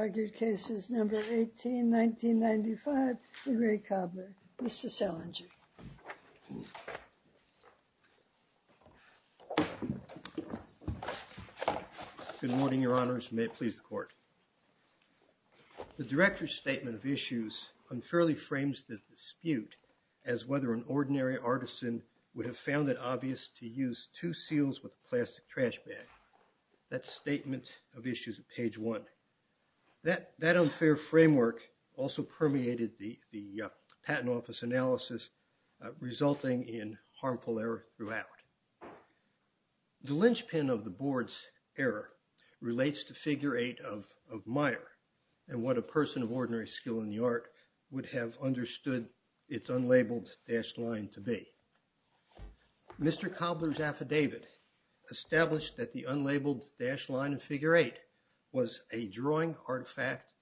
Good morning, Your Honors. May it please the Court. The Director's Statement of Issues unfairly frames the dispute as whether an ordinary artisan would have found it obvious to use two seals with a plastic trash bag. That's Statement of Issues at page one. That unfair framework also permeated the Patent Office analysis, resulting in harmful error throughout. The linchpin of the Board's error relates to figure eight of Meyer and what a person of ordinary skill in the art would have understood its unlabeled dashed line to be. Mr. Cobler's affidavit established that the unlabeled dashed line in figure eight was a drawing artifact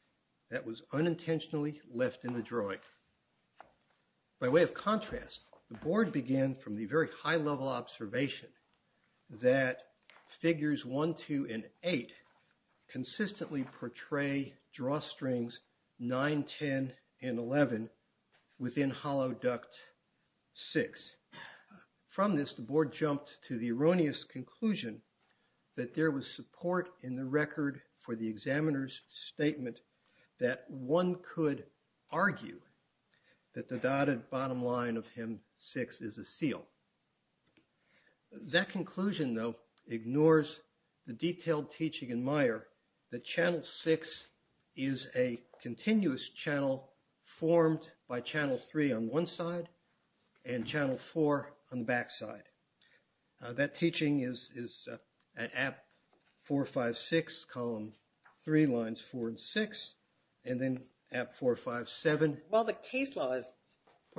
that was unintentionally left in the drawing. By way of contrast, the Board began from the very high-level observation that figures one, two, and eight consistently portray drawstrings nine, ten, and eleven within hollow duct six. From this, the Board jumped to the erroneous conclusion that there was support in the record for the examiner's statement that one could argue that the dotted bottom line of hem six is a seal. That conclusion, though, ignores the detailed by channel three on one side and channel four on the back side. That teaching is at app 456, column three, lines four and six, and then app 457. While the case law is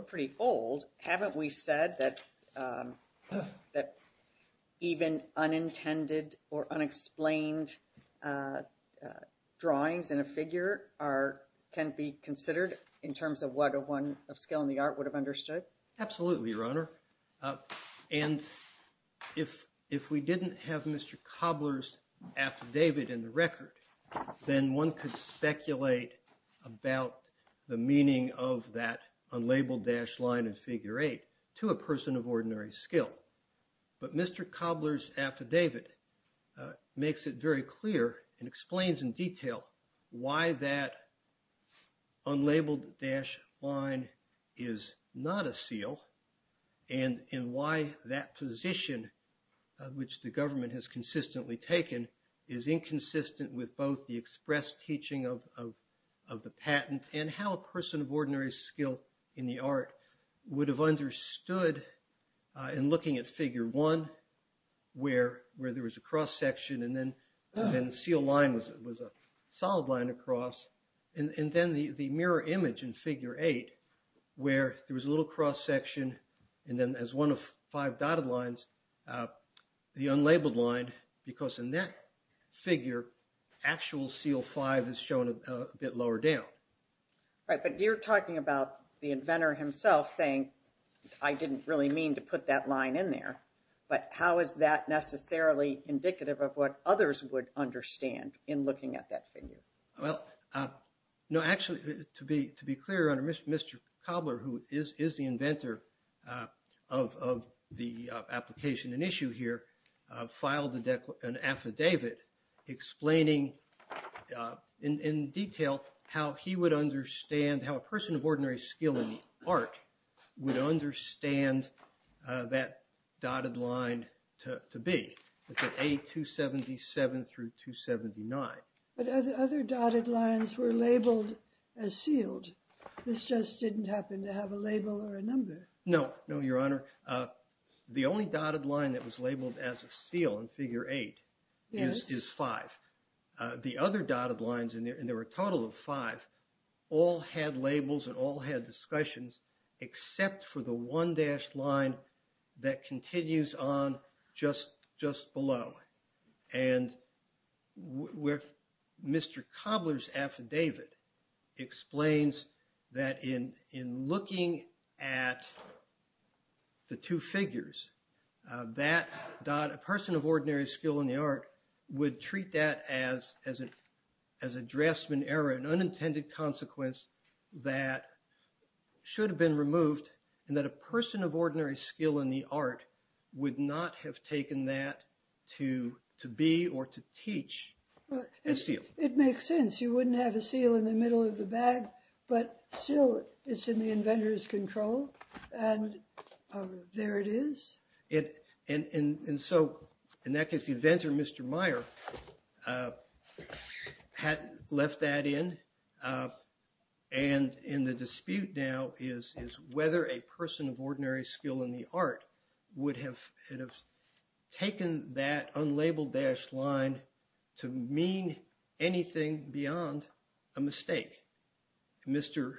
pretty old, haven't we said that even unintended or unexplained uh drawings in a figure are can be considered in terms of what a one of skill in the art would have understood? Absolutely, your honor, and if if we didn't have Mr. Cobler's affidavit in the record then one could speculate about the meaning of that unlabeled dashed line in figure eight to a person of ordinary skill. But Mr. Cobler's affidavit makes it very clear and explains in detail why that unlabeled dash line is not a seal and in why that position which the government has consistently taken is inconsistent with both the express teaching of of the patent and how a person of ordinary skill in the art would have understood uh in looking at figure one where where there was a cross section and then and seal line was it was a solid line across and and then the the mirror image in figure eight where there was a little cross section and then as one of five dotted lines uh the unlabeled line because in that figure actual seal five is shown a bit lower down. Right but you're talking about the inventor himself saying I didn't really mean to put that line in there but how is that necessarily indicative of what others would understand in looking at that figure? Well uh no actually to be to be clear under Mr. Mr. Cobler who is is the affidavit explaining uh in in detail how he would understand how a person of ordinary skill in the art would understand uh that dotted line to to be look at a 277 through 279. But other dotted lines were labeled as sealed this just didn't happen to have a label or a number. No no your line that was labeled as a seal in figure eight is is five. The other dotted lines in there and there were a total of five all had labels and all had discussions except for the one dashed line that continues on just just below and where Mr. Cobler's affidavit explains that in in looking at the two figures uh that dot a person of ordinary skill in the art would treat that as as a as a draftsman error an unintended consequence that should have been removed and that a person of ordinary skill in the art would not have taken that to to be or to teach and seal. It makes sense you wouldn't have a seal in the middle of the bag but still it's in the inventor's control and there it is. It and and and so in that case the inventor Mr. Meyer uh had left that in uh and in the dispute now is is whether a person of ordinary skill in the art would have it have taken that unlabeled dashed line to mean anything beyond a mistake. Mr.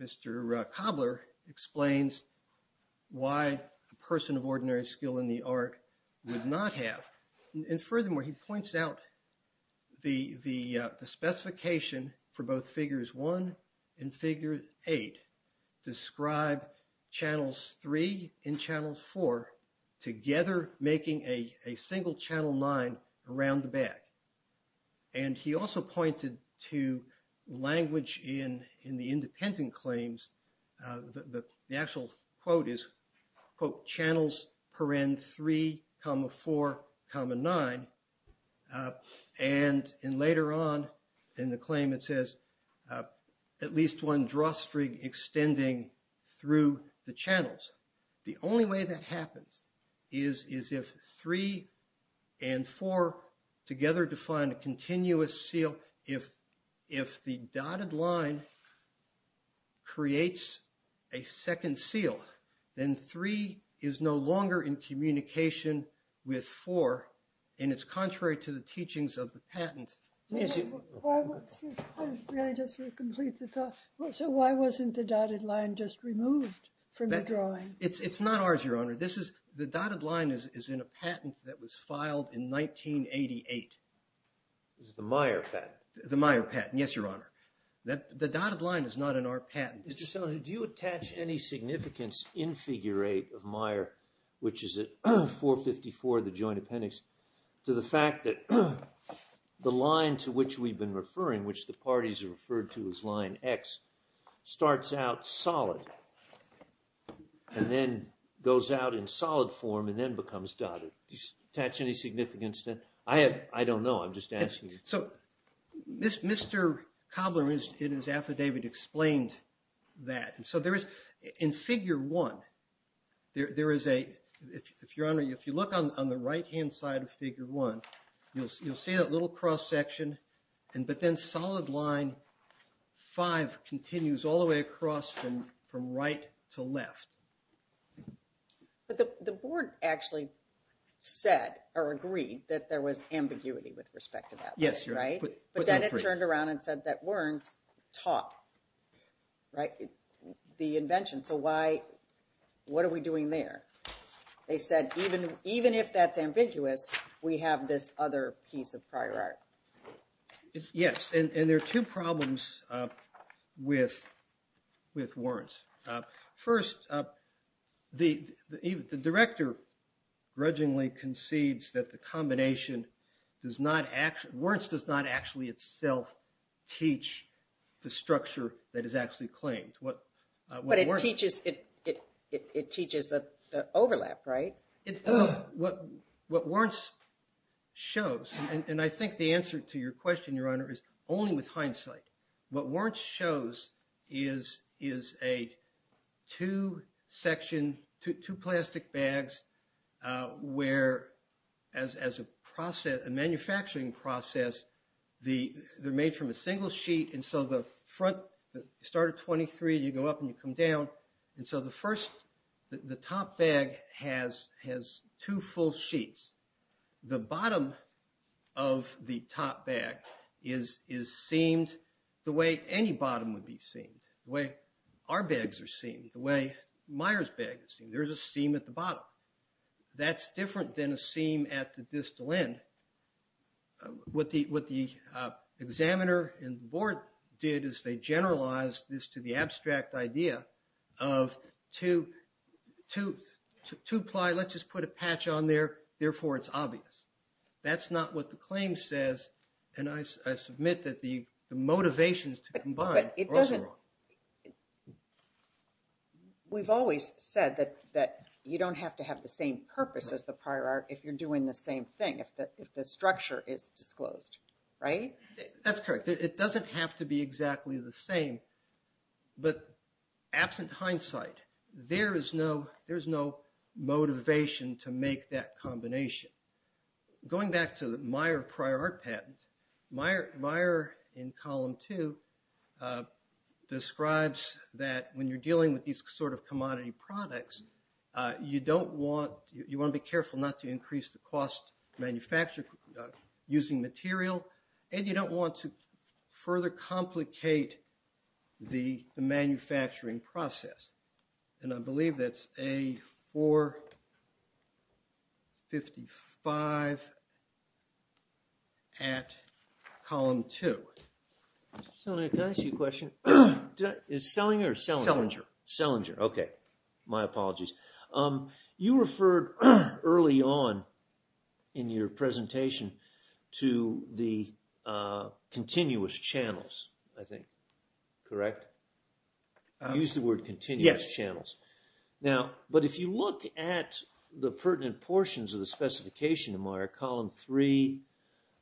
Mr. Cobler explains why a person of ordinary skill in the art would not have and furthermore he points out the the uh the specification for both figures one and figure eight describe channels three and channels four together making a a single channel nine around the bag and he also pointed to language in in the independent claims uh the the actual quote is quote channels paren three comma four comma nine uh and in later on in the claim it says uh at least one drawstring extending through the channels the only way that happens is is if three and four together define a continuous seal if if the dotted line creates a second seal then three is no longer in communication with four and it's contrary to the teachings of the patent. So why wasn't the dotted line just removed from the drawing? It's it's not ours your honor this is the dotted line is is in a patent that was filed in 1988. This is the Meyer patent? The Meyer patent yes your honor that the dotted line is not in our patent. So do you attach any significance in figure eight of Meyer which is at 454 the joint appendix to the fact that the line to which we've been referring which the parties are referred to as line x starts out solid and then goes out in solid form and then becomes dotted. Do you attach any significance then? I have I don't know I'm just asking. So this Mr. Cobbler is in his affidavit explained that and so there is in figure one there there is a if your honor if you look on the right hand side of figure one you'll see you'll see that little cross section and but then solid line five continues all the way across from from right to left. But the the board actually said or agreed that there was ambiguity with respect to that yes right but then it turned around and said that Wern's taught right the invention so why what are we doing there? They said even even if that's ambiguous we have this other piece of prior art. Yes and there are two problems with with Wern's. First the the director grudgingly concedes that the combination does not actually Wern's does not actually itself teach the structure that is actually claimed. What but it teaches it it it teaches the the overlap right? It what what Wern's shows and and I think the answer to your question your honor is only with hindsight. What Wern's shows is is a two section two plastic bags where as as a process a manufacturing process the they're made from a single sheet and so the front the start of 23 you go up and you come down and so the first the top bag has has two full sheets. The bottom of the top bag is is seamed the way any bottom would be seen the way our bags are seen the way Meyer's bag is seen there's a at the distal end. What the what the examiner and the board did is they generalized this to the abstract idea of two two two ply let's just put a patch on there therefore it's obvious. That's not what the claim says and I submit that the the motivations to combine. But it doesn't it we've always said that that you don't have to have the same purpose as the prior art if you're doing the same thing if that if the structure is disclosed right? That's correct it doesn't have to be exactly the same but absent hindsight there is no there's no motivation to make that that when you're dealing with these sort of commodity products you don't want you want to be careful not to increase the cost manufactured using material and you don't want to further complicate the manufacturing process and I believe that's a 455 at column two. So can I ask you a question? Is Sellinger or Sellinger? Sellinger. Sellinger okay my apologies. You referred early on in your presentation to the continuous channels I think correct? You used the word continuous channels now but if you look at the pertinent portions of the specification in Meijer column three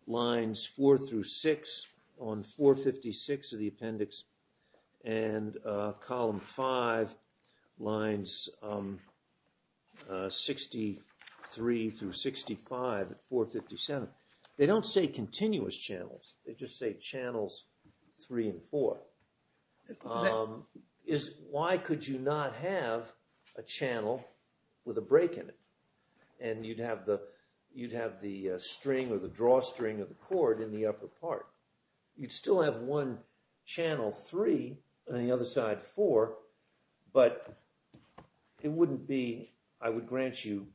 lines four through six on 456 of the appendix and column five lines 63 through 65 at 457 they don't say continuous channels they just channels three and four. Why could you not have a channel with a break in it and you'd have the you'd have the string or the drawstring of the cord in the upper part you'd still have one channel three and the other side four but it wouldn't be I would grant you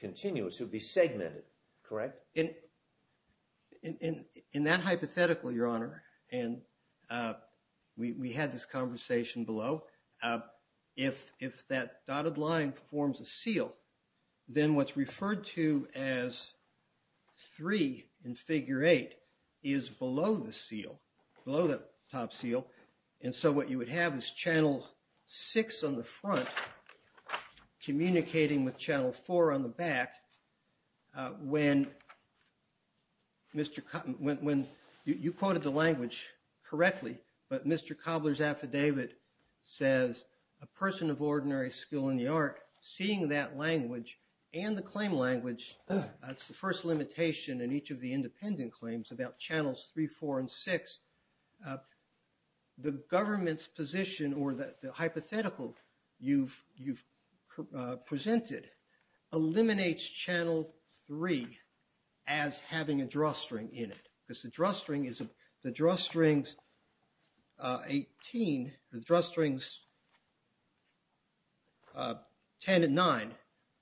continuous it would be segmented correct? In that hypothetical your honor and we had this conversation below if that dotted line forms a seal then what's referred to as three in figure eight is below the seal below the top seal and so what you would have is channel six on the front communicating with channel four on the back when you quoted the language correctly but Mr. Cobbler's affidavit says a person of ordinary skill in the art seeing that language and the claim language that's the first limitation in each of the independent claims about channels three four and six the government's position or the hypothetical you've presented eliminates channel three as having a drawstring in it because the drawstring is the drawstrings 18 the drawstrings 10 and 9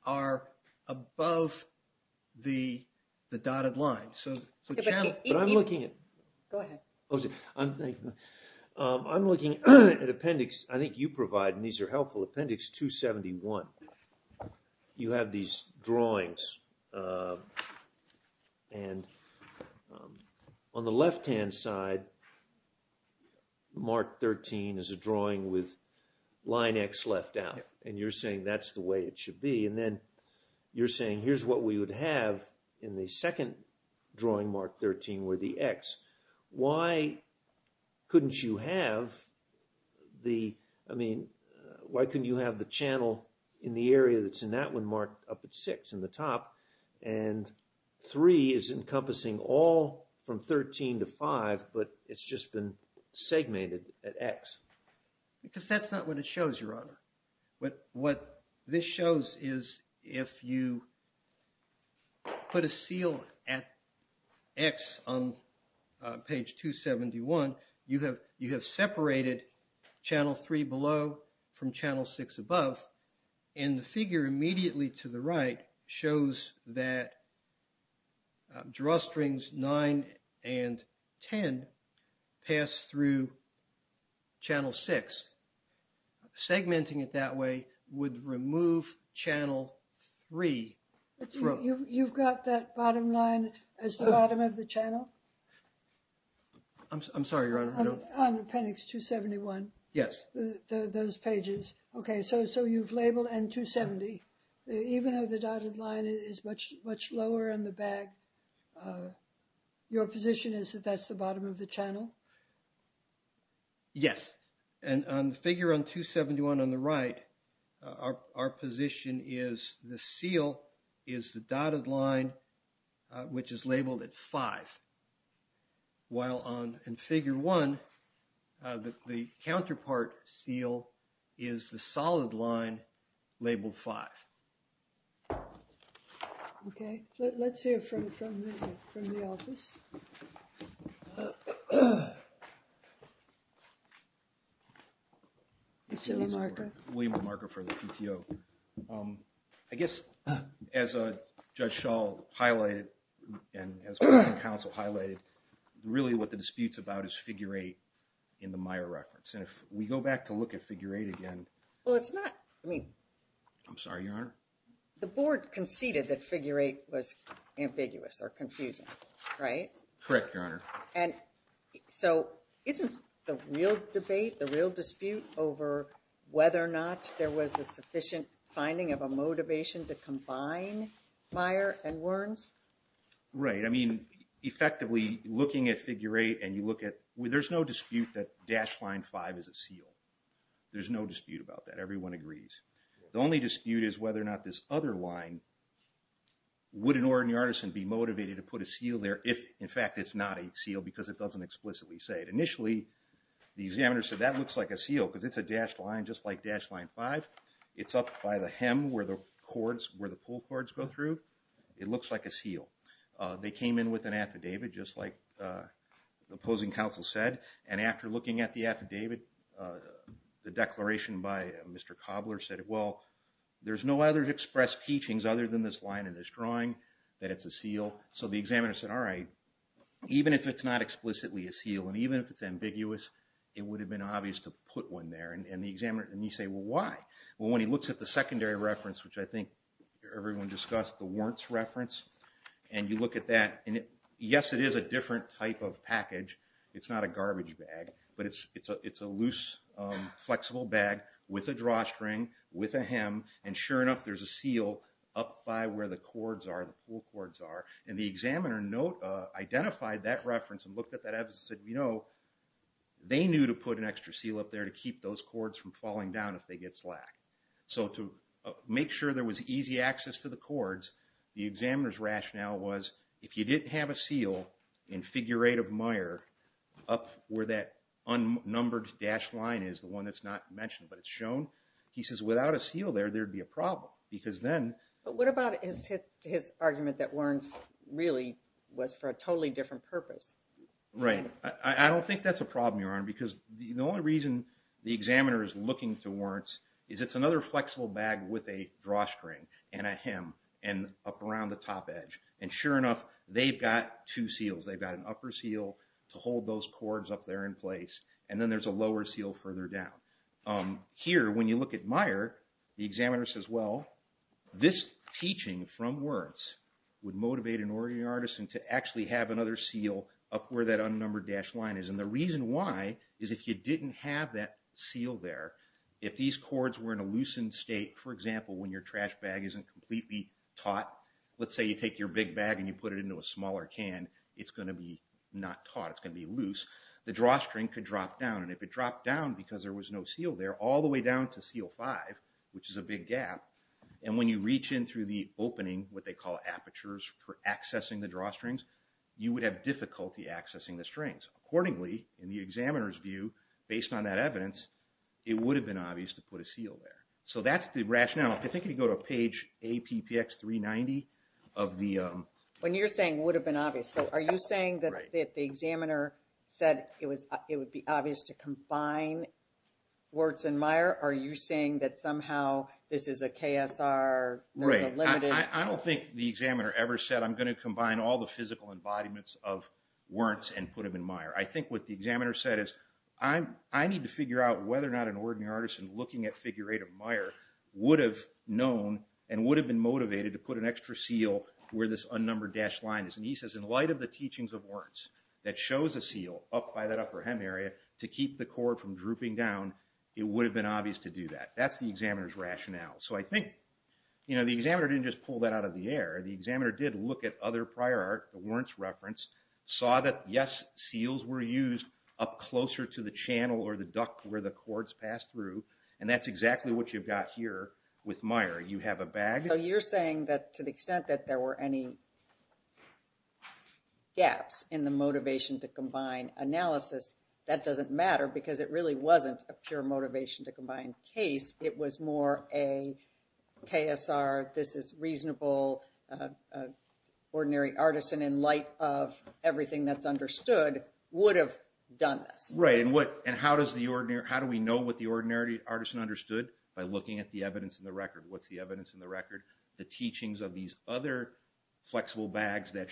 are above the the dotted line so but I'm looking at go ahead I'm thinking I'm looking at appendix I think you provide and these are helpful appendix 271 you have these drawings and on the left hand side mark 13 is a drawing with line x left out and you're saying that's the way it should be and then you're saying here's what we would have in the second drawing mark 13 where the x why couldn't you have the I mean why couldn't you have the channel in the area that's in that one up at six in the top and three is encompassing all from 13 to five but it's just been segmented at x because that's not what it shows your honor but what this shows is if you put a seal at x on page 271 you have you have separated channel three below from channel six above and the figure immediately to the right shows that drawstrings 9 and 10 pass through channel six segmenting it that way would remove channel three you've got that bottom line as the bottom of the channel I'm sorry your honor no appendix 271 yes those pages okay so so you've labeled and 270 even though the dotted line is much much lower on the back your position is that that's the bottom of the channel yes and on figure on 271 on the right our our position is the seal is the dotted line which is labeled at five while on in figure one the counterpart seal is the solid line labeled five okay let's hear from from the from the office uh I guess as a judge shawl highlighted and as council highlighted really what the disputes about is figure eight in the meyer reference and if we go back to look at figure eight again well it's not I mean I'm sorry your honor the board conceded that figure eight was so isn't the real debate the real dispute over whether or not there was a sufficient finding of a motivation to combine meyer and werns right I mean effectively looking at figure eight and you look at there's no dispute that dash line five is a seal there's no dispute about that everyone agrees the only dispute is whether or not this other line would an ordinary artisan be motivated to put a seal there if in fact it's not a seal because it doesn't explicitly say it initially the examiner said that looks like a seal because it's a dashed line just like dash line five it's up by the hem where the cords where the pull cords go through it looks like a seal they came in with an affidavit just like the opposing council said and after looking at the affidavit the declaration by mr cobbler said well there's no other to express teachings other than this line in this drawing that it's a seal so the examiner said all right even if it's not explicitly a seal and even if it's ambiguous it would have been obvious to put one there and the examiner and you say well why well when he looks at the secondary reference which I think everyone discussed the warrants reference and you look at that and yes it is a different type of package it's not a garbage bag but it's it's a it's a loose flexible bag with a drawstring with a hem and sure enough there's a seal up by where the cords are the pull cords are and the examiner note identified that reference and looked at that evidence said you know they knew to put an extra seal up there to keep those cords from falling down if they get slack so to make sure there was easy access to the cords the examiner's rationale was if you didn't have a seal in figure eight of meyer up where that unnumbered dash line is the one that's not mentioned but it's shown he says without a seal there there'd be a problem because then but what about his his argument that warrants really was for a totally different purpose right I don't think that's a problem your honor because the only reason the examiner is looking to warrants is it's another flexible bag with a drawstring and a hem and up around the top edge and sure enough they've got two seals they've got an upper seal to hold those cords up there in place and then there's a lower seal further down um here when you look at meyer the examiner says well this teaching from words would motivate an origin artisan to actually have another seal up where that unnumbered dash line is and the reason why is if you didn't have that seal there if these cords were in a loosened state for example when your trash bag isn't completely taught let's say you take your big bag and you put it into a smaller can it's going to be not taught it's going to be loose the drawstring could drop down and if it there all the way down to seal five which is a big gap and when you reach in through the opening what they call apertures for accessing the drawstrings you would have difficulty accessing the strings accordingly in the examiner's view based on that evidence it would have been obvious to put a seal there so that's the rationale if you think you go to page a ppx 390 of the um when you're saying would have been obvious so are you saying that the examiner said it was it would be obvious to combine warts and meyer are you saying that somehow this is a ksr right i don't think the examiner ever said i'm going to combine all the physical embodiments of warts and put them in meyer i think what the examiner said is i'm i need to figure out whether or not an ordinary artisan looking at figure eight of meyer would have known and would have been motivated to put an extra seal where this unnumbered dash line is and he says in light of the teachings of words that shows a seal up by that upper hem area to keep the cord from drooping down it would have been obvious to do that that's the examiner's rationale so i think you know the examiner didn't just pull that out of the air the examiner did look at other prior art the warrants reference saw that yes seals were used up closer to the channel or the duct where the cords pass through and that's exactly what you've got here with meyer you have a bag so you're saying that to the extent that there were any gaps in the motivation to combine analysis that doesn't matter because it really wasn't a pure motivation to combine case it was more a ksr this is reasonable uh ordinary artisan in light of everything that's understood would have done this right and what and how does the ordinary how do we know what the ordinary artisan understood by looking at the evidence in the record what's the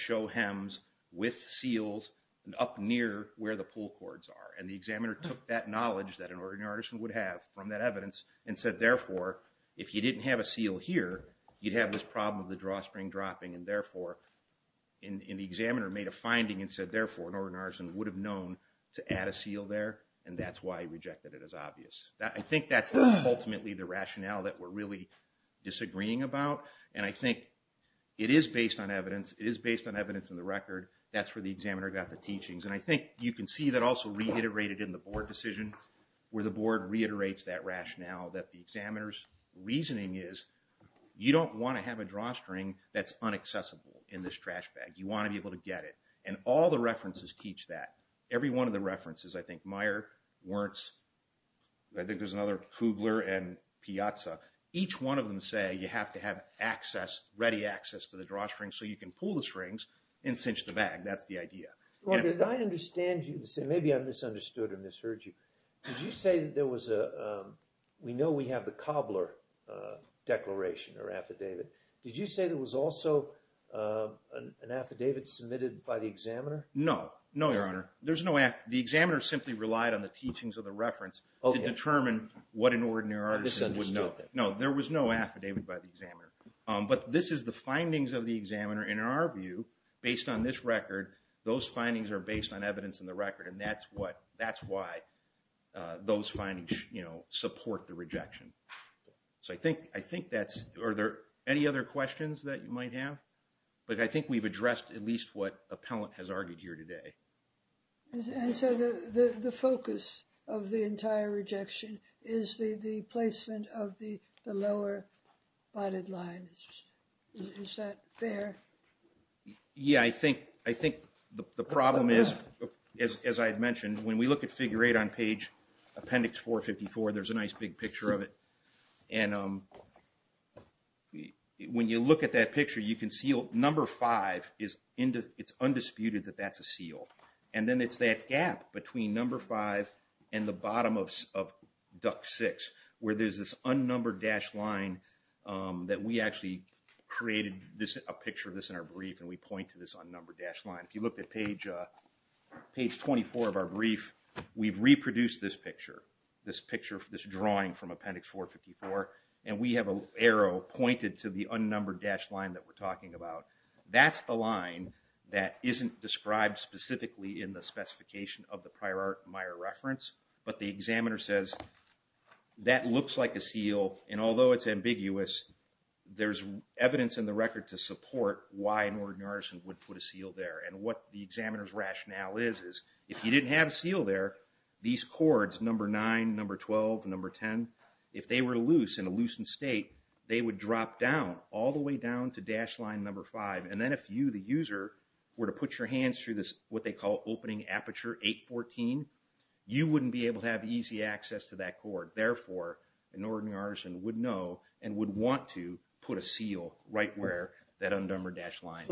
show hems with seals and up near where the pull cords are and the examiner took that knowledge that an ordinary artisan would have from that evidence and said therefore if you didn't have a seal here you'd have this problem of the draw spring dropping and therefore in the examiner made a finding and said therefore an ordinary artisan would have known to add a seal there and that's why he rejected it as obvious i think that's ultimately the rationale that we're really agreeing about and i think it is based on evidence it is based on evidence in the record that's where the examiner got the teachings and i think you can see that also reiterated in the board decision where the board reiterates that rationale that the examiner's reasoning is you don't want to have a drawstring that's unaccessible in this trash bag you want to be able to get it and all the references teach that every one of the references i think meyer wurtz i think there's another kugler and piazza each one of them say you have to have access ready access to the drawstring so you can pull the strings and cinch the bag that's the idea well did i understand you to say maybe i misunderstood or misheard you did you say that there was a um we know we have the cobbler uh declaration or affidavit did you say there was also uh an affidavit submitted by the examiner no no your honor there's no act the examiner simply relied on the teachings of the reference to determine what an ordinary artist would know no there was no affidavit by the examiner um but this is the findings of the examiner in our view based on this record those findings are based on evidence in the record and that's what that's why uh those findings you know support the rejection so i think i think that's are there any other questions that you might have but i think we've addressed at least what appellant has argued here today and so the the the focus of the entire rejection is the the placement of the the lower bodied line is that fair yeah i think i think the the problem is as i had mentioned when we look at figure eight on page appendix 454 there's a nice big picture of it and um when you look at that picture you can see number five is into it's undisputed that that's a seal and then it's that gap between number five and the bottom of duck six where there's this unnumbered dash line um that we actually created this a picture of this in our brief and we point to this unnumbered dash line if you looked at page uh page 24 of our brief we've reproduced this picture this drawing from appendix 454 and we have a arrow pointed to the unnumbered dash line that we're talking about that's the line that isn't described specifically in the specification of the prior art meyer reference but the examiner says that looks like a seal and although it's ambiguous there's evidence in the record to support why an ordinary person would put a seal there and what the examiner's rationale is is if you didn't have a seal there these cords number nine number twelve number ten if they were loose in a loosened state they would drop down all the way down to dash line number five and then if you the user were to put your hands through this what they call opening aperture 814 you wouldn't be able to have easy access to that cord therefore an ordinary artisan would know and would want to put a seal right where that undumbered dash line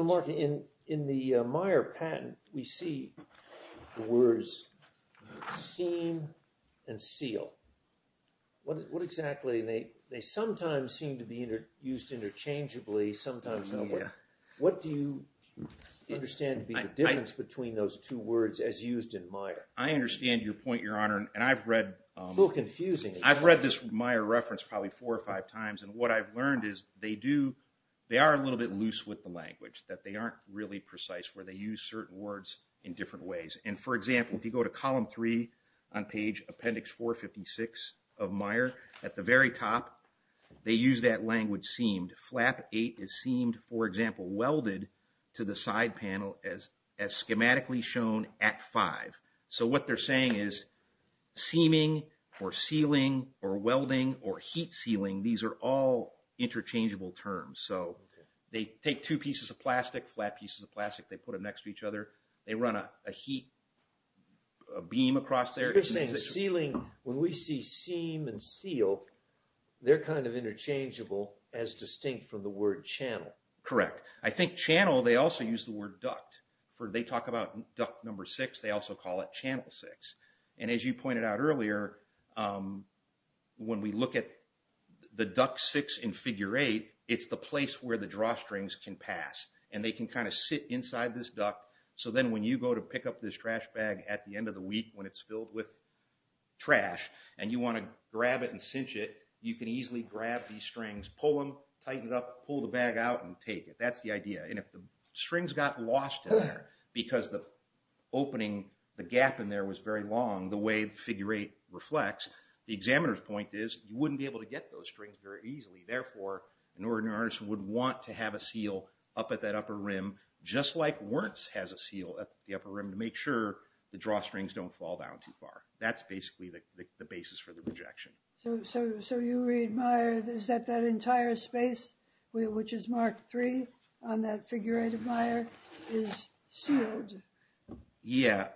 in the meyer patent we see the words seam and seal what what exactly they they sometimes seem to be used interchangeably sometimes nowhere what do you understand to be the difference between those two words as used in minor i understand your point your honor and i've read a little confusing i've read this meyer reference probably four or five times and what i've learned is they they are a little bit loose with the language that they aren't really precise where they use certain words in different ways and for example if you go to column three on page appendix 456 of meyer at the very top they use that language seamed flap eight is seamed for example welded to the side panel as as schematically shown at five so what they're saying is seaming or sealing or welding or heat sealing these are all interchangeable terms so they take two pieces of plastic flat pieces of plastic they put them next to each other they run a heat beam across their ceiling when we see seam and seal they're kind of interchangeable as distinct from the word channel correct i think channel they also use the word duct for they talk about duct number six they also call it channel six and as you pointed out earlier um when we look at the duct six in figure eight it's the place where the drawstrings can pass and they can kind of sit inside this duct so then when you go to pick up this trash bag at the end of the week when it's filled with trash and you want to grab it and cinch it you can easily grab these strings pull them tighten it up pull the bag out and take it that's the idea and if the strings got lost in there because the opening the gap in there was very long the way figure eight reflects the examiner's point is you wouldn't be able to get those strings very easily therefore an ordinary artist would want to have a seal up at that upper rim just like wurtz has a seal at the upper rim to make sure the drawstrings don't fall down too far that's basically the the basis for the rejection so so yeah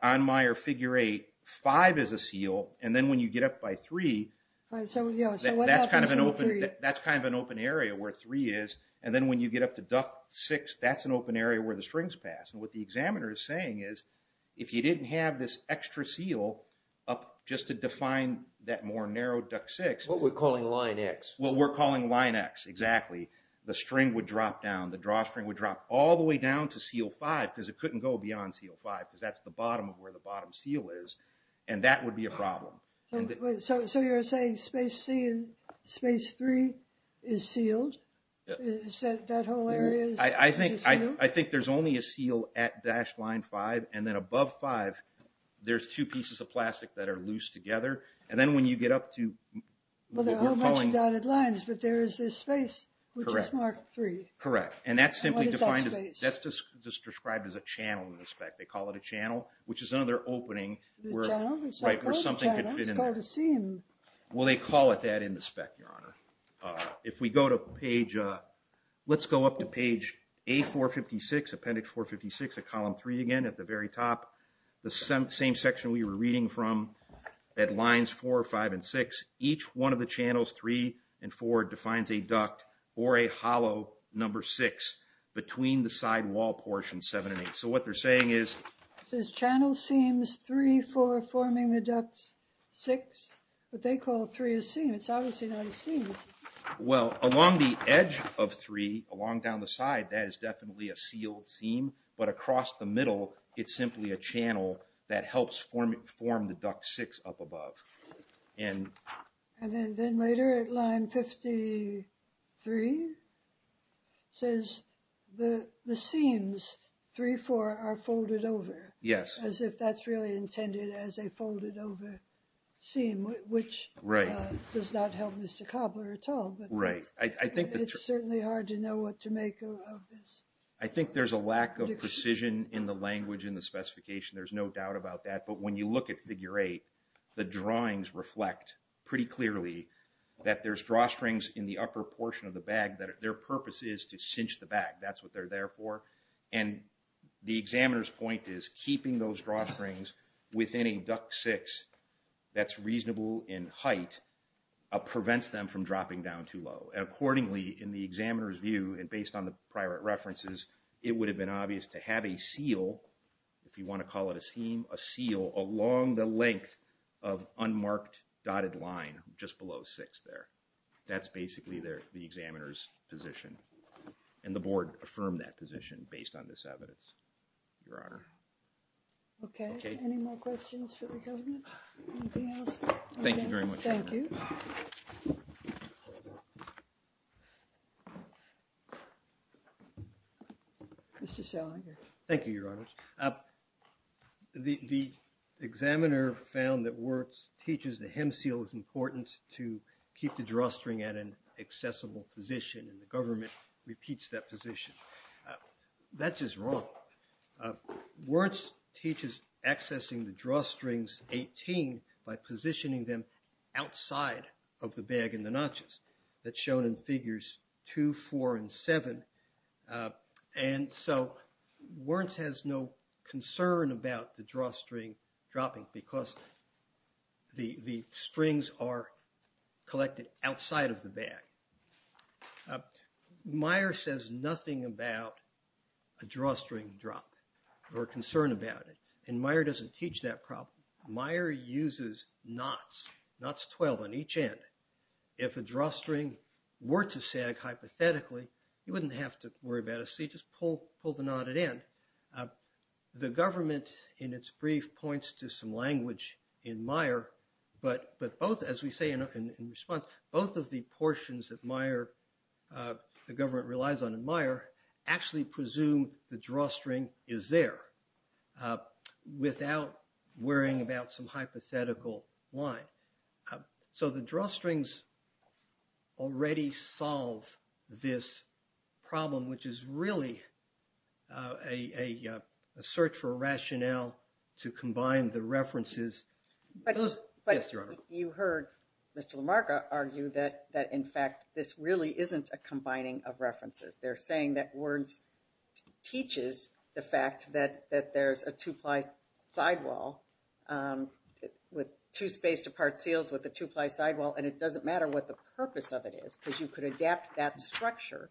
on meyer figure eight five is a seal and then when you get up by three that's kind of an open that's kind of an open area where three is and then when you get up to duct six that's an open area where the strings pass and what the examiner is saying is if you didn't have this extra seal up just to define that more narrow duct six what we're calling line x what we're calling line x exactly the string would drop down the drawstring would drop all the way down to seal five because it couldn't go beyond seal five because that's the bottom of where the bottom seal is and that would be a problem so so you're saying space c and space three is sealed is that whole area i i think i i think there's only a seal at dash line five and then above five there's two pieces of plastic that are loose together and then when you get up to well there are a bunch of dotted lines but there is this space which is mark three correct and that's simply defined as that's just described as a channel in the spec they call it a channel which is another opening where right where something could fit in there to seem well they call it that in the spec your honor uh if we go to page uh let's go up to page a 456 appendix 456 at column three again at the very top the same section we were reading from at lines four five and six each one of the channels three and four defines a duct or a hollow number six between the side wall portion seven and eight so what they're saying is this channel seems three four forming the ducts six what they call three is seen it's obviously well along the edge of three along down the side that is definitely a sealed seam but across the middle it's simply a channel that helps form it form the duct six up above and and then later at line 53 says the the seams three four are folded over yes as if that's really intended as a folded over seam which right does not help mr cobbler at all but right i think it's certainly hard to know what to make of this i think there's a lack of precision in the language in the specification there's no doubt about that but when you look at figure eight the drawings reflect pretty clearly that there's drawstrings in the upper portion of the bag that their purpose is to cinch the bag that's what they're there for and the examiner's point is keeping those drawstrings within a duct six that's reasonable in height uh prevents them from dropping down too low accordingly in the examiner's view and based on the prior references it would have been obvious to have a seal if you want to call it a seam a seal along the length of unmarked dotted line just below six there that's basically their the examiner's position and the board affirmed that position based on this evidence your honor okay any more questions for the government thank you very much thank you mr shell thank you your honors uh the the examiner found that works teaches the hem seal is important to keep the drawstring at an accessible position and the government repeats that position that's just wrong uh warts teaches accessing the drawstrings 18 by positioning them outside of the bag in the notches that's shown in figures two four and seven and so warrants has no concern about the drawstring dropping because the the strings are collected outside of the bag meyer says nothing about a drawstring drop or concern about it and meyer doesn't teach that meyer uses knots knots 12 on each end if a drawstring were to sag hypothetically you wouldn't have to worry about it so you just pull pull the knot at end the government in its brief points to some language in meyer but but both as we say in response both of the portions that meyer uh the government relies on admire actually presume the drawstring is there uh without worrying about some hypothetical line so the drawstrings already solve this problem which is really uh a a search for rationale to combine the references but you heard mr lamarca argue that that in fact this really isn't a combining of references they're saying that words teaches the fact that that there's a two-ply sidewall um with two spaced apart seals with the two-ply sidewall and it doesn't matter what the purpose of it is because you could adapt that structure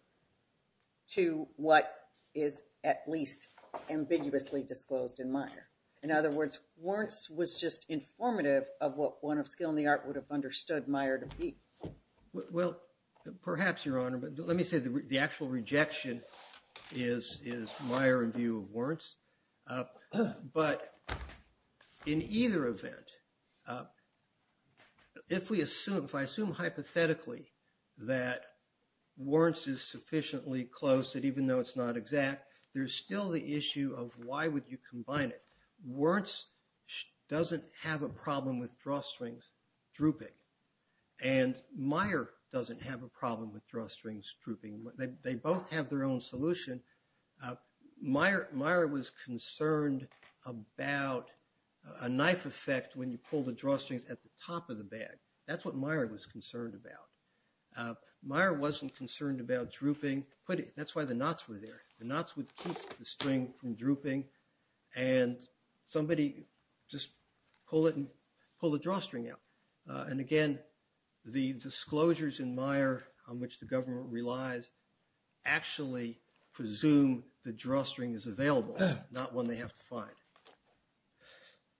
to what is at least ambiguously disclosed in meyer in other words warrants was just informative of what one of skill in the art would have understood meyer to be well perhaps your honor but let me say the actual rejection is is my review of warrants but in either event if we assume if i assume hypothetically that warrants is sufficiently close that even though it's not exact there's still the issue of why would you combine it warrants doesn't have a problem with drawstrings drooping and meyer doesn't have a problem with drawstrings drooping they both have their own solution meyer meyer was concerned about a knife effect when you pull the drawstrings at the top of the bag that's what meyer was concerned about meyer wasn't concerned about drooping but that's why the knots were there the knots would keep the string from drooping and somebody just pull it and pull the drawstring out and again the disclosures in meyer on which the government relies actually presume the drawstring is available not one they have to find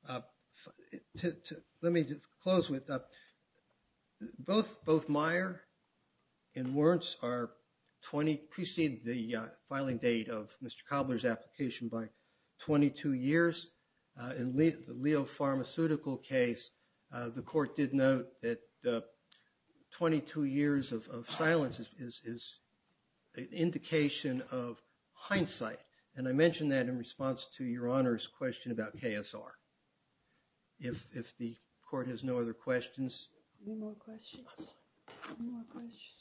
uh let me just close with uh both both meyer and warrants are 20 precede the filing date of mr cobbler's application by 22 years uh in the leo pharmaceutical case uh the court did note that 22 years of silence is is an indication of hindsight and i mentioned that in response to your honor's question about ksr if if the court has no other questions any more questions no more questions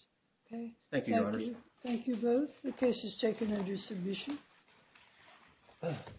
okay thank you thank you both the case is taken under submission